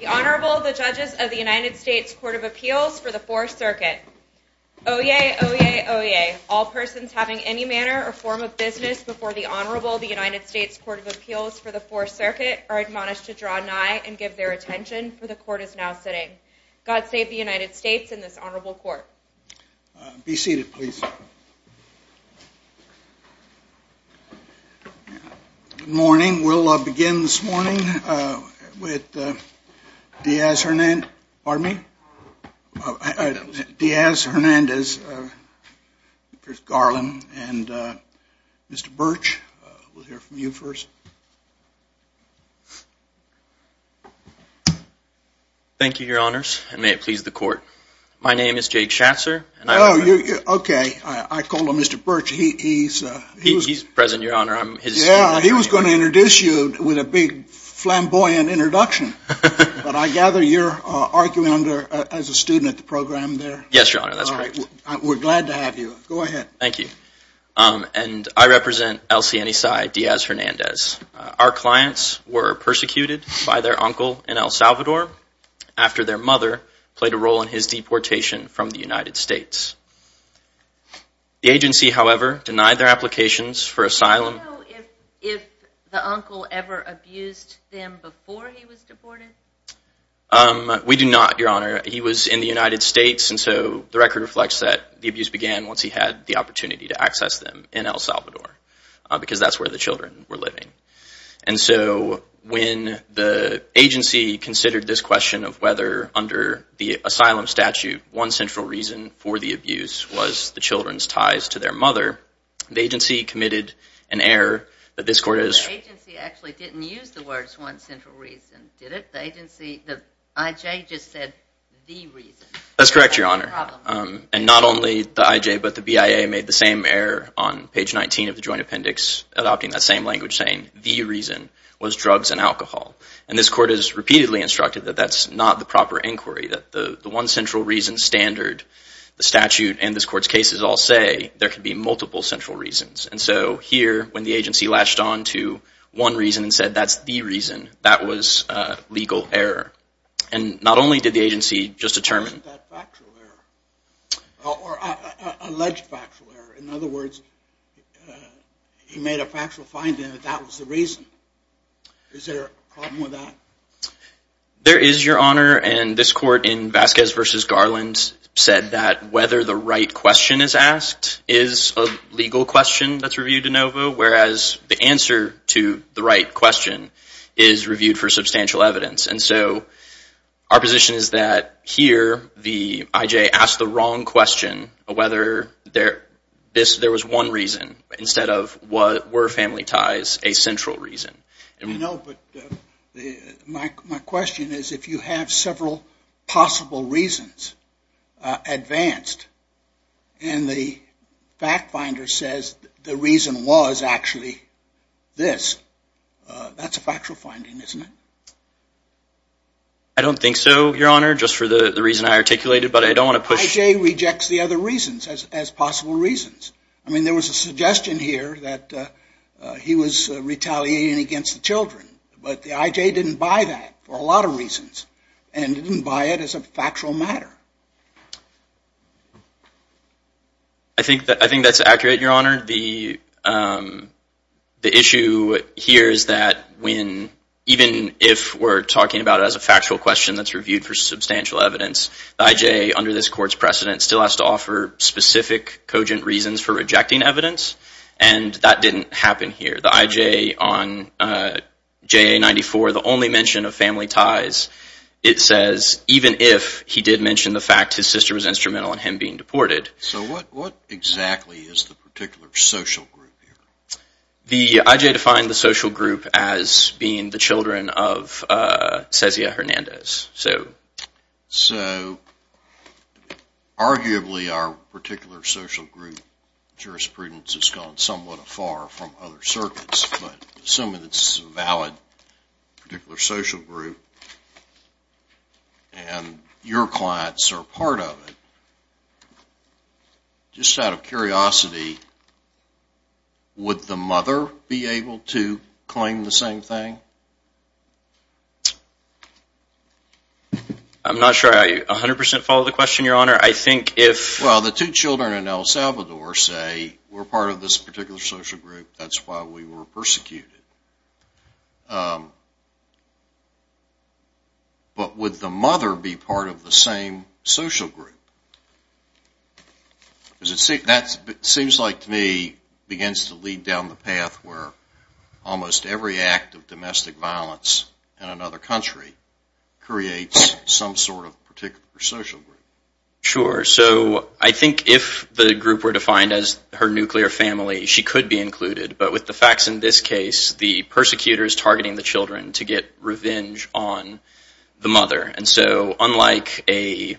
The Honorable, the Judges of the United States Court of Appeals for the Fourth Circuit. Oyez, oyez, oyez. All persons having any manner or form of business before the Honorable, the United States Court of Appeals for the Fourth Circuit are admonished to draw nigh and give their attention, for the Court is now sitting. God save the United States and this Honorable Court. Be seated, please. Good morning. We'll begin this morning with Diaz-Hernandez, Garland, and Mr. Birch. We'll hear from you first. Thank you, Your Honors, and may it please the Court. My name is Jake Schatzer. Oh, okay. I call him Mr. Birch. He's present, Your Honor. Yeah, he was going to introduce you with a big flamboyant introduction, but I gather you're arguing as a student at the program there. Yes, Your Honor, that's right. We're glad to have you. Go ahead. Okay, thank you. And I represent El Cienisay Diaz-Hernandez. Our clients were persecuted by their uncle in El Salvador after their mother played a role in his deportation from the United States. The agency, however, denied their applications for asylum. Do you know if the uncle ever abused them before he was deported? We do not, Your Honor. He was in the United States, and so the record reflects that the abuse began once he had the opportunity to access them in El Salvador, because that's where the children were living. And so when the agency considered this question of whether, under the asylum statute, one central reason for the abuse was the children's ties to their mother, the agency committed an error that this court has… The agency actually didn't use the words one central reason, did it? The agency, the I.J. just said the reason. That's correct, Your Honor. And not only the I.J., but the B.I.A. made the same error on page 19 of the joint appendix, adopting that same language, saying the reason was drugs and alcohol. And this court has repeatedly instructed that that's not the proper inquiry, that the one central reason standard, the statute, and this court's cases all say there could be multiple central reasons. And so here, when the agency latched on to one reason and said that's the reason, that was legal error. And not only did the agency just determine… Wasn't that factual error? Or alleged factual error? In other words, he made a factual finding that that was the reason. Is there a problem with that? There is, Your Honor, and this court in Vasquez v. Garland said that whether the right question is asked is a legal question that's reviewed de novo, whereas the answer to the right question is reviewed for substantial evidence. And so our position is that here, the I.J. asked the wrong question of whether there was one reason instead of were family ties a central reason. I know, but my question is if you have several possible reasons advanced and the fact finder says the reason was actually this, that's a factual finding, isn't it? I don't think so, Your Honor, just for the reason I articulated, but I don't want to push… as possible reasons. I mean, there was a suggestion here that he was retaliating against the children, but the I.J. didn't buy that for a lot of reasons and didn't buy it as a factual matter. I think that's accurate, Your Honor. The issue here is that even if we're talking about it as a factual question that's reviewed for substantial evidence, the I.J., under this court's precedent, still has to offer specific, cogent reasons for rejecting evidence, and that didn't happen here. The I.J. on JA-94, the only mention of family ties, it says even if he did mention the fact his sister was instrumental in him being deported… So what exactly is the particular social group here? The I.J. defined the social group as being the children of Cezia Hernandez. So arguably our particular social group jurisprudence has gone somewhat afar from other circuits, but assuming it's a valid particular social group and your clients are part of it, just out of curiosity, would the mother be able to claim the same thing? I'm not sure I 100% follow the question, Your Honor. I think if… Well, the two children in El Salvador say we're part of this particular social group, that's why we were persecuted. But would the mother be part of the same social group? Because it seems like to me it begins to lead down the path where almost every act of domestic violence in another country creates some sort of particular social group. Sure. So I think if the group were defined as her nuclear family, she could be included. But with the facts in this case, the persecutor is targeting the children to get revenge on the mother. And so unlike an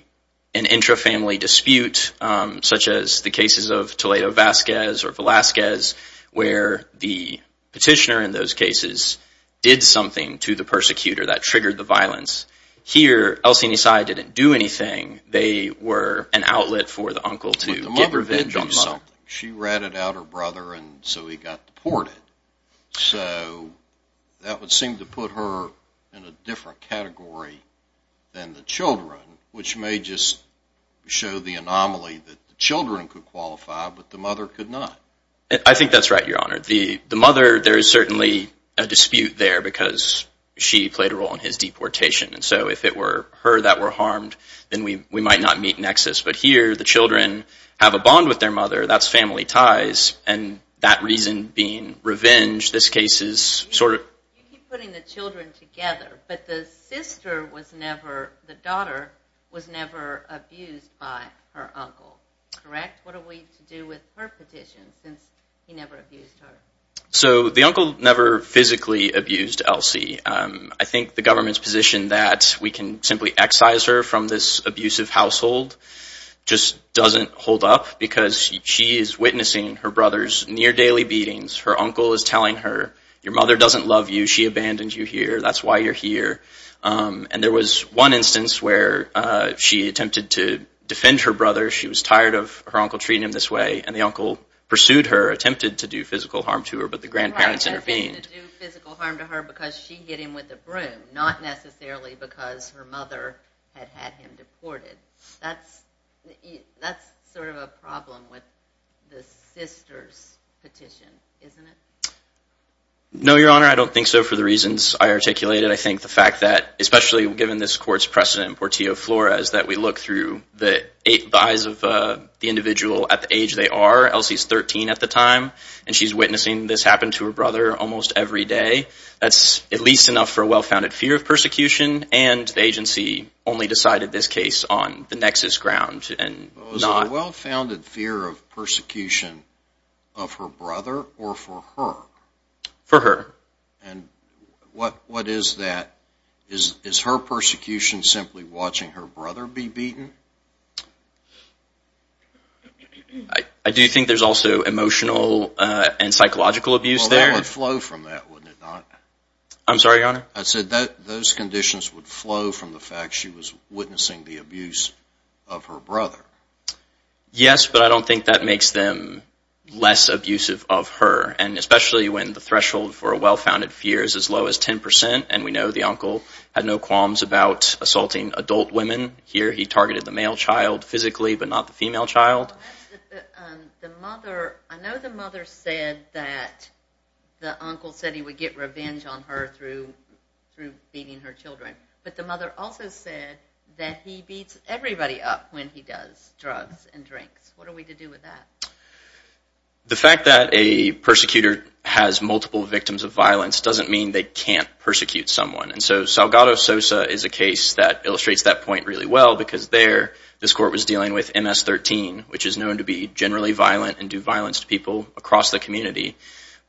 intra-family dispute, such as the cases of Toledo-Vasquez or Velazquez, where the petitioner in those cases did something to the persecutor that triggered the violence, here, El Sinisay didn't do anything. They were an outlet for the uncle to get revenge on himself. But the mother did do something. She ratted out her brother and so he got deported. So that would seem to put her in a different category than the children, which may just show the anomaly that the children could qualify, but the mother could not. I think that's right, Your Honor. The mother, there is certainly a dispute there because she played a role in his deportation. And so if it were her that were harmed, then we might not meet nexus. But here, the children have a bond with their mother. That's family ties. And that reason being revenge, this case is sort of... You keep putting the children together, but the sister was never, the daughter was never abused by her uncle, correct? What are we to do with her petition since he never abused her? So the uncle never physically abused Elsie. I think the government's position that we can simply excise her from this abusive household just doesn't hold up because she is witnessing her brother's near daily beatings. Her uncle is telling her, your mother doesn't love you. She abandoned you here. That's why you're here. And there was one instance where she attempted to defend her brother. She was tired of her uncle treating him this way, and the uncle pursued her, attempted to do physical harm to her, but the grandparents intervened. Right, attempted to do physical harm to her because she hit him with a broom, not necessarily because her mother had had him deported. That's sort of a problem with the sister's petition, isn't it? No, Your Honor, I don't think so for the reasons I articulated. I think the fact that, especially given this court's precedent in Portillo-Flores, that we look through the eyes of the individual at the age they are. Elsie's 13 at the time, and she's witnessing this happen to her brother almost every day. That's at least enough for a well-founded fear of persecution, and the agency only decided this case on the nexus ground. Was it a well-founded fear of persecution of her brother or for her? For her. And what is that? Is her persecution simply watching her brother be beaten? I do think there's also emotional and psychological abuse there. Well, that would flow from that, wouldn't it not? I'm sorry, Your Honor? I said those conditions would flow from the fact she was witnessing the abuse of her brother. Yes, but I don't think that makes them less abusive of her, and especially when the threshold for a well-founded fear is as low as 10%, and we know the uncle had no qualms about assaulting adult women. Here he targeted the male child physically, but not the female child. I know the mother said that the uncle said he would get revenge on her through beating her children, but the mother also said that he beats everybody up when he does drugs and drinks. What are we to do with that? The fact that a persecutor has multiple victims of violence doesn't mean they can't persecute someone, and so Salgado Sosa is a case that illustrates that point really well, because there this court was dealing with MS-13, which is known to be generally violent and do violence to people across the community,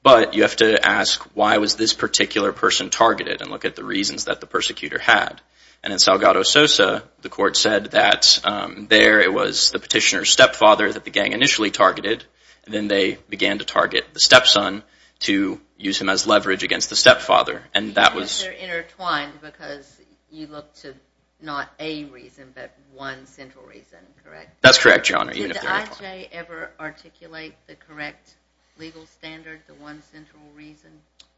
but you have to ask why was this particular person targeted and look at the reasons that the persecutor had, and in Salgado Sosa the court said that there it was the petitioner's stepfather that the gang initially targeted, and then they began to target the stepson to use him as leverage against the stepfather, and that was... Because they're intertwined, because you look to not a reason, but one central reason, correct? That's correct, Your Honor, even if they're intertwined. Did the IJ ever articulate the correct legal standard, the one central reason?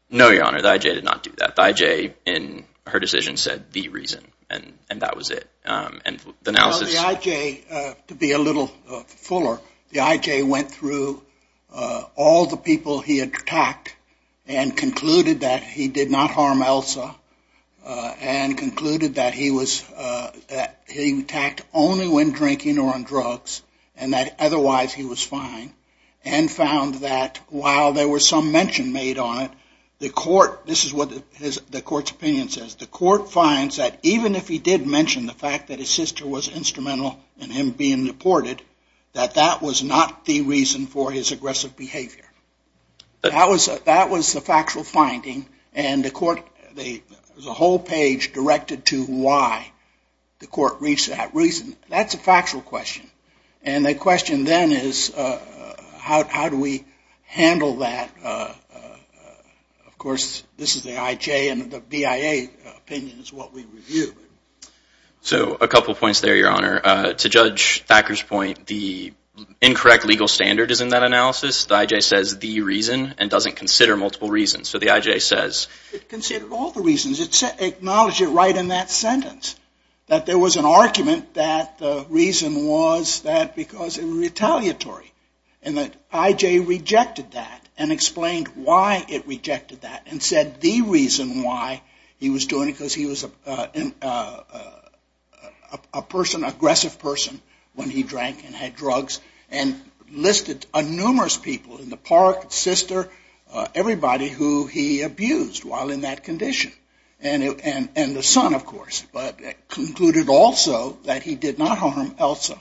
No, Your Honor, the IJ did not do that. The IJ in her decision said the reason, and that was it, and the analysis... Well, the IJ, to be a little fuller, the IJ went through all the people he had attacked and concluded that he did not harm Elsa, and concluded that he attacked only when drinking or on drugs, and that otherwise he was fine, and found that while there was some mention made on it, the court... This is what the court's opinion says. The court finds that even if he did mention the fact that his sister was instrumental in him being deported, that that was not the reason for his aggressive behavior. That was the factual finding, and the court... There's a whole page directed to why the court reached that reason. That's a factual question, and the question then is how do we handle that? Of course, this is the IJ, and the BIA opinion is what we review. So a couple points there, Your Honor. To Judge Thacker's point, the incorrect legal standard is in that analysis. The IJ says the reason, and doesn't consider multiple reasons. So the IJ says... It acknowledged it right in that sentence, that there was an argument that the reason was that because it was retaliatory, and that IJ rejected that, and explained why it rejected that, and said the reason why he was doing it, because he was an aggressive person when he drank and had drugs, and listed numerous people in the park, sister, everybody who he abused while in that condition, and the son, of course, but concluded also that he did not harm Elsa,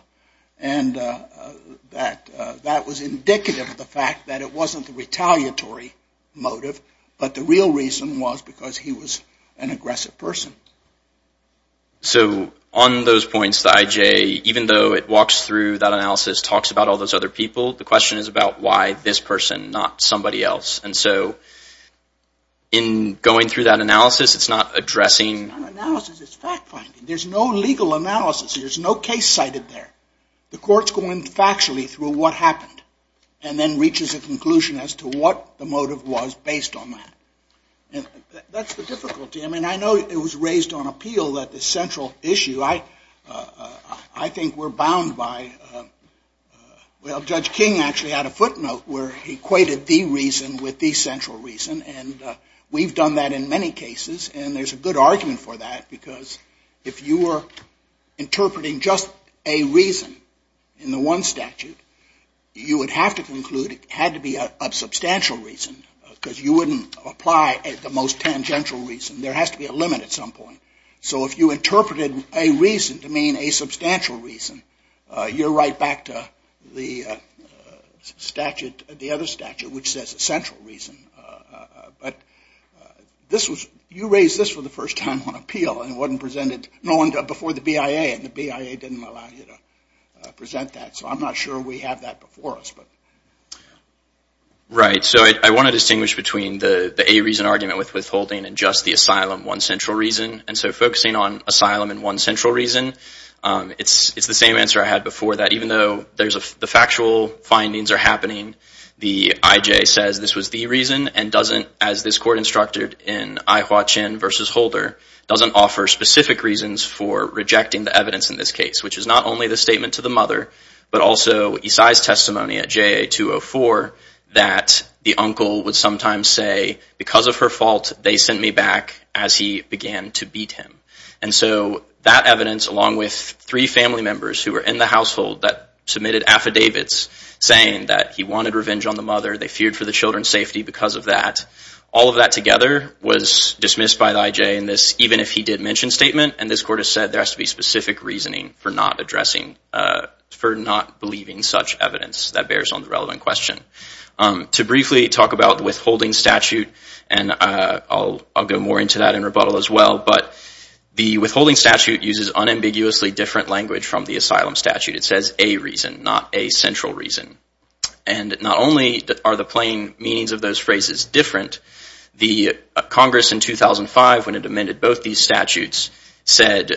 and that was indicative of the fact that it wasn't the retaliatory motive, but the real reason was because he was an aggressive person. So on those points, the IJ, even though it walks through that analysis, talks about all those other people, the question is about why this person, not somebody else. And so in going through that analysis, it's not addressing... It's not analysis, it's fact-finding. There's no legal analysis. There's no case cited there. The court's going factually through what happened, and then reaches a conclusion as to what the motive was based on that. And that's the difficulty. I mean, I know it was raised on appeal that the central issue, I think we're bound by... Well, Judge King actually had a footnote where he equated the reason with the central reason, and we've done that in many cases, and there's a good argument for that because if you were interpreting just a reason in the one statute, you would have to conclude it had to be a substantial reason because you wouldn't apply the most tangential reason. There has to be a limit at some point. So if you interpreted a reason to mean a substantial reason, you're right back to the statute, the other statute, which says a central reason. But you raised this for the first time on appeal, and it wasn't presented before the BIA, and the BIA didn't allow you to present that. So I'm not sure we have that before us. Right. So I want to distinguish between the A reason argument with withholding and just the asylum, one central reason. And so focusing on asylum and one central reason, it's the same answer I had before that. Even though the factual findings are happening, the IJ says this was the reason and doesn't, as this court instructed in Ai Hua Chin v. Holder, doesn't offer specific reasons for rejecting the evidence in this case, which is not only the statement to the mother, but also Isai's testimony at JA 204 that the uncle would sometimes say, because of her fault, they sent me back as he began to beat him. And so that evidence, along with three family members who were in the household that submitted affidavits saying that he wanted revenge on the mother, they feared for the children's safety because of that, all of that together was dismissed by the IJ in this even if he did mention statement, and this court has said there has to be specific reasoning for not addressing, for not believing such evidence that bears on the relevant question. To briefly talk about withholding statute, and I'll go more into that in rebuttal as well, but the withholding statute uses unambiguously different language from the asylum statute. It says a reason, not a central reason. And not only are the plain meanings of those phrases different, the Congress in 2005, when it amended both these statutes, said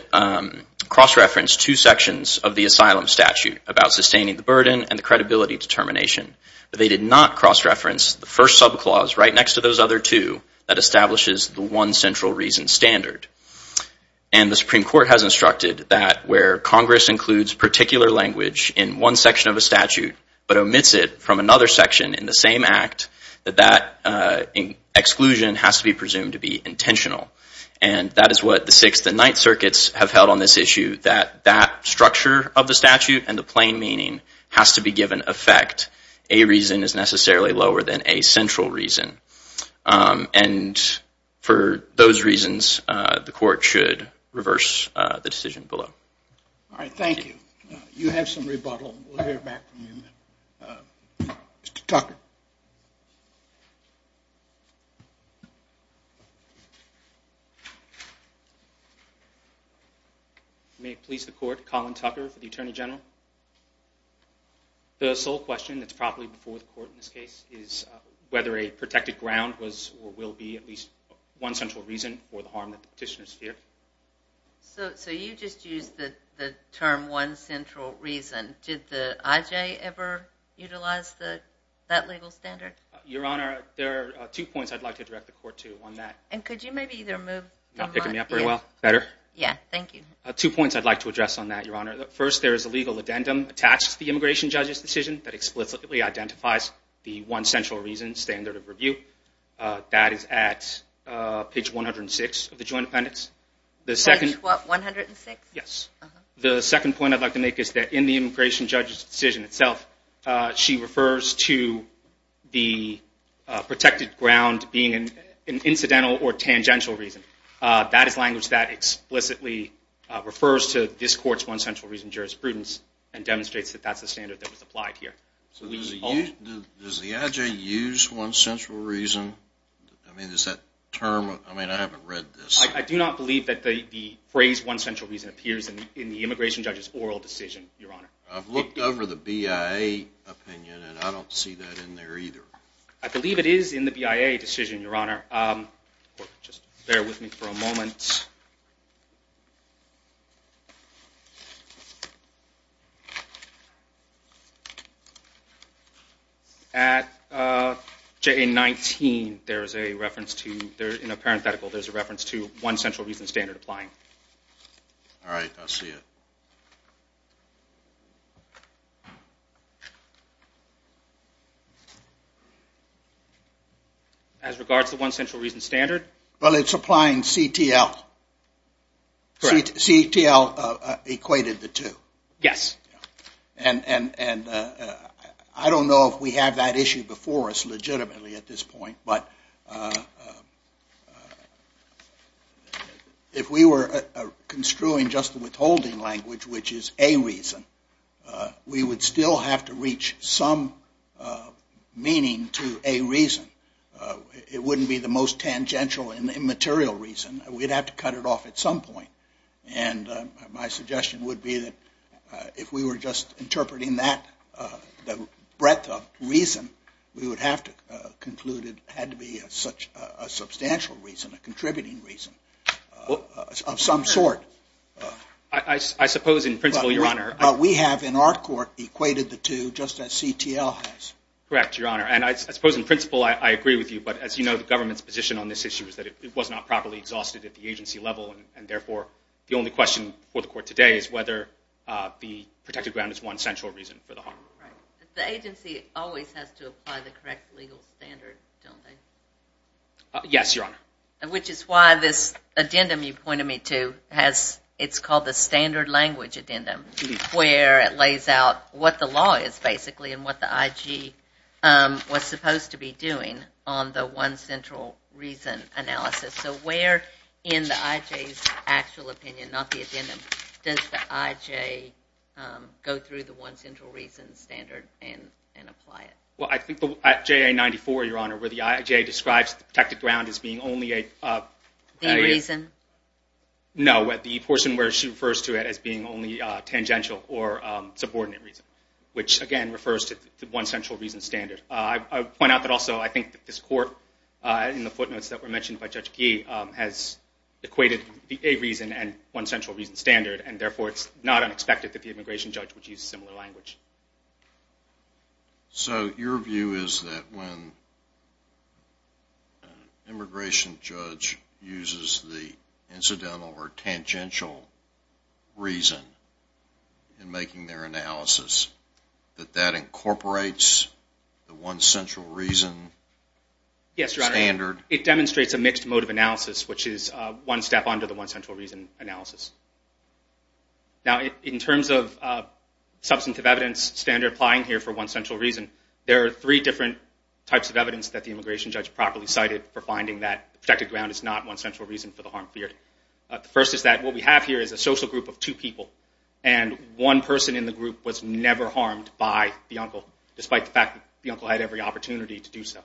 cross-referenced two sections of the asylum statute about sustaining the burden and the credibility determination. But they did not cross-reference the first subclause right next to those other two that establishes the one central reason standard. And the Supreme Court has instructed that where Congress includes particular language in one section of a statute, but omits it from another section in the same act, that that exclusion has to be presumed to be intentional. And that is what the Sixth and Ninth Circuits have held on this issue, that that structure of the statute and the plain meaning has to be given effect that a reason is necessarily lower than a central reason. And for those reasons, the court should reverse the decision below. All right, thank you. You have some rebuttal. We'll hear back from you in a minute. Mr. Tucker. May it please the Court, Colin Tucker for the Attorney General. The sole question that's probably before the Court in this case is whether a protected ground was or will be at least one central reason for the harm that the petitioners feared. So you just used the term one central reason. Did the IJ ever utilize that legal standard? Your Honor, there are two points I'd like to direct the Court to on that. And could you maybe either move the mic? You're not picking me up very well? Better? Two points I'd like to address on that, Your Honor. First, there is a legal addendum attached to the immigration judge's decision that explicitly identifies the one central reason standard of review. That is at page 106 of the Joint Appendix. Page what, 106? Yes. The second point I'd like to make is that in the immigration judge's decision itself, she refers to the protected ground being an incidental or tangential reason. That is language that explicitly refers to this Court's one central reason jurisprudence and demonstrates that that's the standard that was applied here. So does the IJ use one central reason? I mean, is that term, I mean, I haven't read this. I do not believe that the phrase one central reason appears in the immigration judge's oral decision, Your Honor. I've looked over the BIA opinion, and I don't see that in there either. I believe it is in the BIA decision, Your Honor. Just bear with me for a moment. At JA19, there is a reference to, in a parenthetical, there is a reference to one central reason standard applying. All right, I see it. As regards to one central reason standard? Well, it's applying CTL. Correct. CTL equated the two. Yes. And I don't know if we have that issue before us legitimately at this point, but if we were construing just the withholding language, which is a reason, we would still have to reach some meaning to a reason. It wouldn't be the most tangential and immaterial reason. We'd have to cut it off at some point. And my suggestion would be that if we were just interpreting that, the breadth of reason, we would have to conclude it had to be a substantial reason, a contributing reason of some sort. I suppose in principle, Your Honor. But we have in our court equated the two just as CTL has. Correct, Your Honor. And I suppose in principle I agree with you, but as you know the government's position on this issue is that it was not properly exhausted at the agency level, and therefore the only question before the court today is whether the protected ground is one central reason for the harm. The agency always has to apply the correct legal standard, don't they? Yes, Your Honor. Which is why this addendum you pointed me to, it's called the standard language addendum, where it lays out what the law is basically and what the IG was supposed to be doing on the one central reason analysis. So where in the IJ's actual opinion, not the addendum, does the IJ go through the one central reason standard and apply it? Well, I think the JA94, Your Honor, where the IJ describes the protected ground as being only a reason. No, the portion where she refers to it as being only tangential or subordinate reason, which, again, refers to the one central reason standard. I would point out that also I think that this court, in the footnotes that were mentioned by Judge Gee, has equated a reason and one central reason standard, and therefore it's not unexpected that the immigration judge would use a similar language. So your view is that when an immigration judge uses the incidental or tangential reason in making their analysis, that that incorporates the one central reason standard? Yes, Your Honor. It demonstrates a mixed mode of analysis, which is one step under the one central reason analysis. Now, in terms of substantive evidence standard applying here for one central reason, there are three different types of evidence that the immigration judge properly cited for finding that the protected ground is not one central reason for the harm feared. The first is that what we have here is a social group of two people, and one person in the group was never harmed by the uncle, despite the fact that the uncle had every opportunity to do so.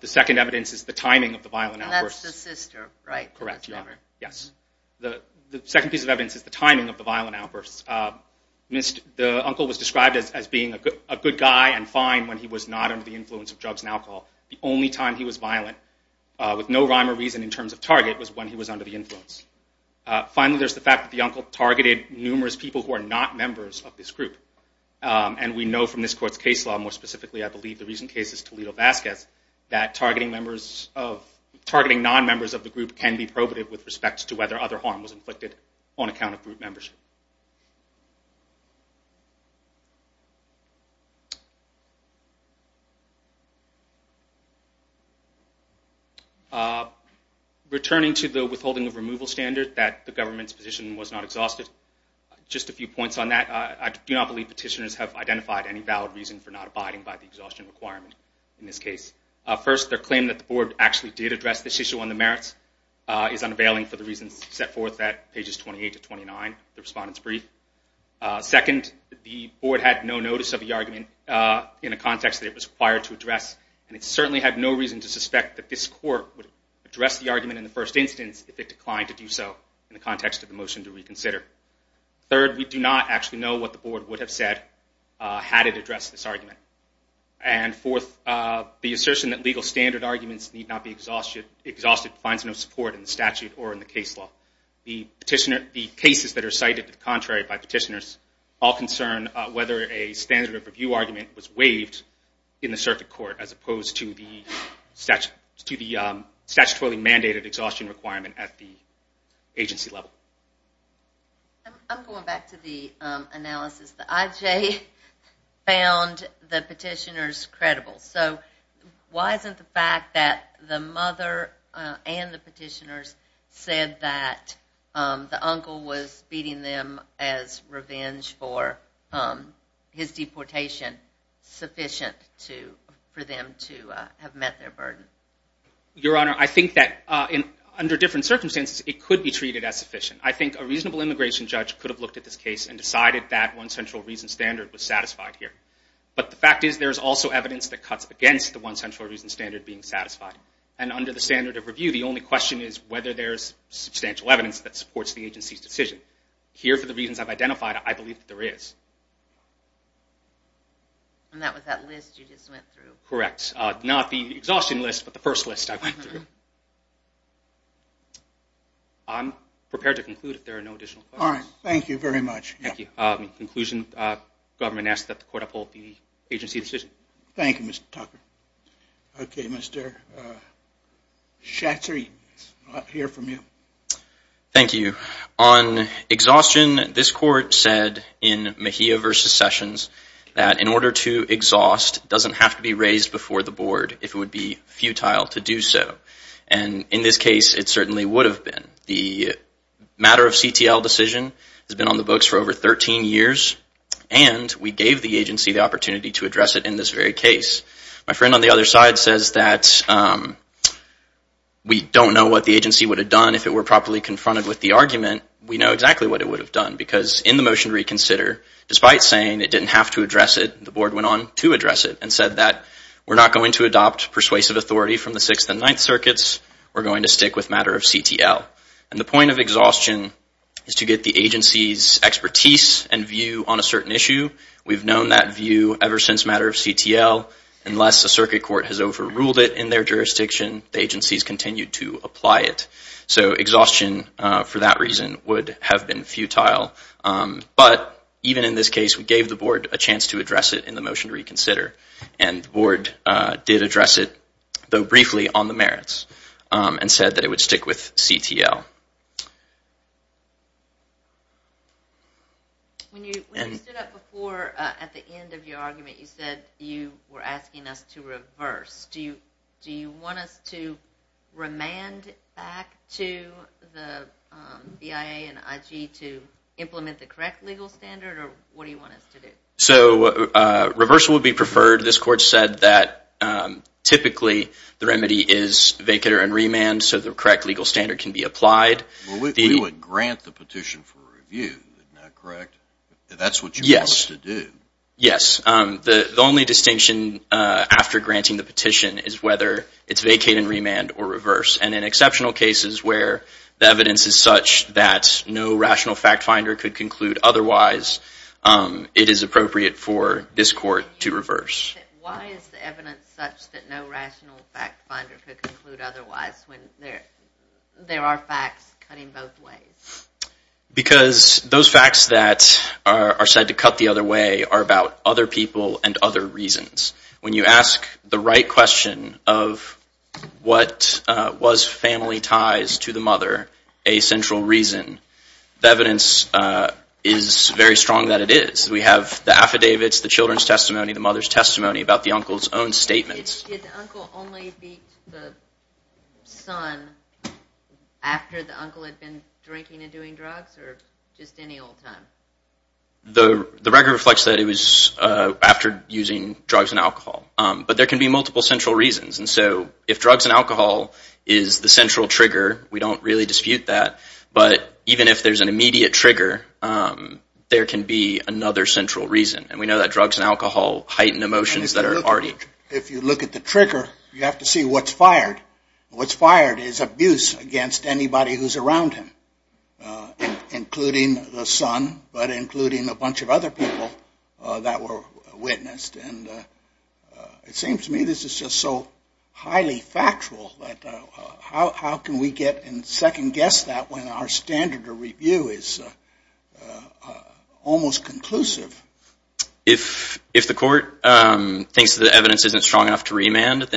The second evidence is the timing of the violent outbursts. And that's the sister, right? Correct, Your Honor. Yes. The second piece of evidence is the timing of the violent outbursts. The uncle was described as being a good guy and fine when he was not under the influence of drugs and alcohol. The only time he was violent, with no rhyme or reason in terms of target, was when he was under the influence. Finally, there's the fact that the uncle targeted numerous people who are not members of this group. And we know from this Court's case law, more specifically I believe the recent cases, Toledo-Vasquez, that targeting non-members of the group can be probative with respect to whether other harm was inflicted on account of group membership. Returning to the withholding of removal standard, that the government's position was not exhausted, just a few points on that. I do not believe petitioners have identified any valid reason for not abiding by the exhaustion requirement in this case. First, their claim that the Board actually did address this issue on the merits is unavailing for the reasons set forth at pages 28 to 29 of the Respondent's Brief. Second, the Board had no notice of the argument in a context that it was required to address, and it certainly had no reason to suspect that this Court would address the argument in the first instance if it declined to do so in the context of the motion to reconsider. Third, we do not actually know what the Board would have said had it addressed this argument. Fourth, the assertion that legal standard arguments need not be exhausted finds no support in the statute or in the case law. The cases that are cited to the contrary by petitioners all concern whether a standard of review argument was waived in the circuit court as opposed to the statutorily mandated exhaustion requirement at the agency level. I'm going back to the analysis. The IJ found the petitioners credible. So why isn't the fact that the mother and the petitioners said that the uncle was beating them as revenge for his deportation sufficient for them to have met their burden? Your Honor, I think that under different circumstances, it could be treated as sufficient. I think a reasonable immigration judge could have looked at this case and decided that one central reason standard was satisfied here. But the fact is there is also evidence that cuts against the one central reason standard being satisfied. And under the standard of review, the only question is whether there is substantial evidence that supports the agency's decision. Here, for the reasons I've identified, I believe that there is. And that was that list you just went through. Correct. Not the exhaustion list, but the first list I went through. I'm prepared to conclude if there are no additional questions. All right. Thank you very much. In conclusion, the government asks that the court uphold the agency's decision. Thank you, Mr. Tucker. Okay, Mr. Schatzer, I'll hear from you. Thank you. On exhaustion, this court said in Mejia v. Sessions that in order to exhaust, it doesn't have to be raised before the board if it would be futile to do so. And in this case, it certainly would have been. The matter of CTL decision has been on the books for over 13 years, and we gave the agency the opportunity to address it in this very case. My friend on the other side says that we don't know what the agency would have done if it were properly confronted with the argument. We know exactly what it would have done, because in the motion to reconsider, despite saying it didn't have to address it, the board went on to address it and said that we're not going to adopt persuasive authority from the Sixth and Ninth Circuits. We're going to stick with matter of CTL. And the point of exhaustion is to get the agency's expertise and view on a certain issue. We've known that view ever since matter of CTL. Unless a circuit court has overruled it in their jurisdiction, the agency's continued to apply it. So exhaustion, for that reason, would have been futile. But even in this case, we gave the board a chance to address it in the motion to reconsider, and the board did address it, though briefly, on the merits, and said that it would stick with CTL. When you stood up before at the end of your argument, you said you were asking us to reverse. Do you want us to remand back to the BIA and IG to implement the correct legal standard, or what do you want us to do? So reversal would be preferred. This court said that typically the remedy is vacate or remand so the correct legal standard can be applied. We would grant the petition for review, correct? That's what you want us to do? Yes. The only distinction after granting the petition is whether it's vacate and remand or reverse. And in exceptional cases where the evidence is such that no rational fact finder could conclude otherwise, it is appropriate for this court to reverse. Why is the evidence such that no rational fact finder could conclude otherwise when there are facts cutting both ways? Because those facts that are said to cut the other way are about other people and other reasons. When you ask the right question of what was family ties to the mother a central reason, the evidence is very strong that it is. We have the affidavits, the children's testimony, the mother's testimony about the uncle's own statements. Did the uncle only beat the son after the uncle had been drinking and doing drugs or just any old time? The record reflects that it was after using drugs and alcohol. But there can be multiple central reasons. And so if drugs and alcohol is the central trigger, we don't really dispute that. But even if there's an immediate trigger, there can be another central reason. And we know that drugs and alcohol heighten emotions that are already. If you look at the trigger, you have to see what's fired. What's fired is abuse against anybody who's around him, including the son but including a bunch of other people that were witnessed. And it seems to me this is just so highly factual that how can we get and second-guess that when our standard of review is almost conclusive? If the court thinks the evidence isn't strong enough to reverse,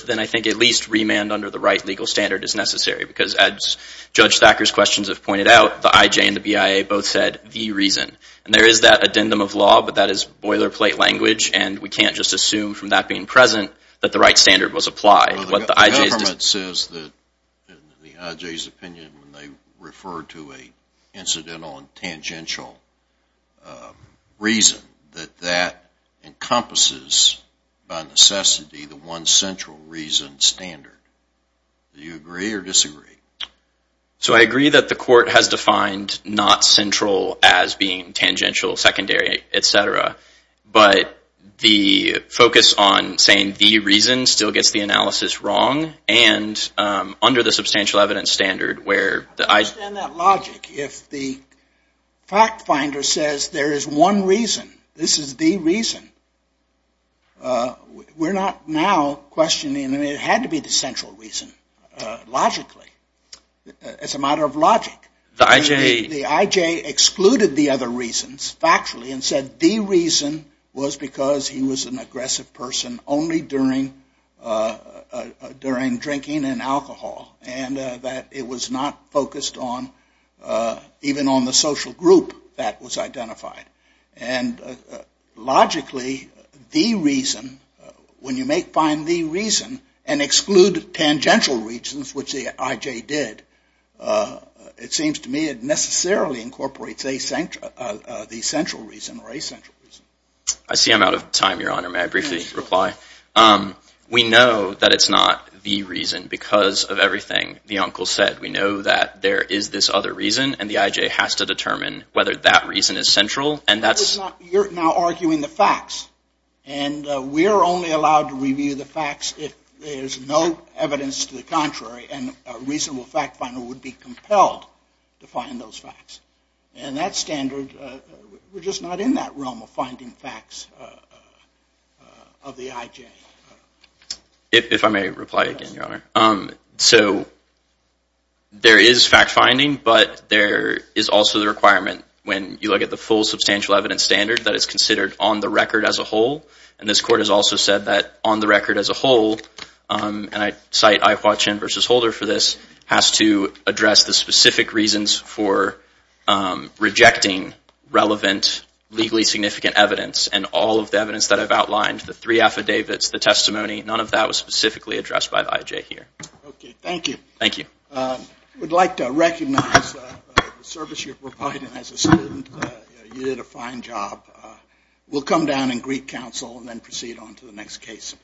then I think at least remand under the right legal standard is necessary because as Judge Thacker's questions have pointed out, the IJ and the BIA both said the reason. And there is that addendum of law, but that is boilerplate language, and we can't just assume from that being present that the right standard was applied. The government says that in the IJ's opinion when they refer to an incidental and tangential reason that that encompasses by necessity the one central reason standard. Do you agree or disagree? So I agree that the court has defined not central as being tangential, secondary, et cetera, but the focus on saying the reason still gets the analysis wrong, and under the substantial evidence standard where the IJ... I don't understand that logic. If the fact finder says there is one reason, this is the reason, we're not now questioning that it had to be the central reason logically, as a matter of logic. The IJ excluded the other reasons factually and said the reason was because he was an aggressive person only during drinking and alcohol and that it was not focused on even on the social group that was identified. And logically, the reason, when you make find the reason and exclude tangential reasons, which the IJ did, it seems to me it necessarily incorporates the central reason or a central reason. I see I'm out of time, Your Honor. May I briefly reply? We know that it's not the reason because of everything the uncle said. We know that there is this other reason, and the IJ has to determine whether that reason is central, and that's... You're now arguing the facts, and we're only allowed to review the facts if there's no evidence to the contrary and a reasonable fact finder would be compelled to find those facts. And that standard, we're just not in that realm of finding facts of the IJ. If I may reply again, Your Honor. So there is fact finding, but there is also the requirement when you look at the full substantial evidence standard that it's considered on the record as a whole, and I cite IHWA Chin versus Holder for this, has to address the specific reasons for rejecting relevant legally significant evidence and all of the evidence that I've outlined, the three affidavits, the testimony, none of that was specifically addressed by the IJ here. Okay, thank you. Thank you. We'd like to recognize the service you're providing as a student. You did a fine job. We'll come down and greet counsel and then proceed on to the next case.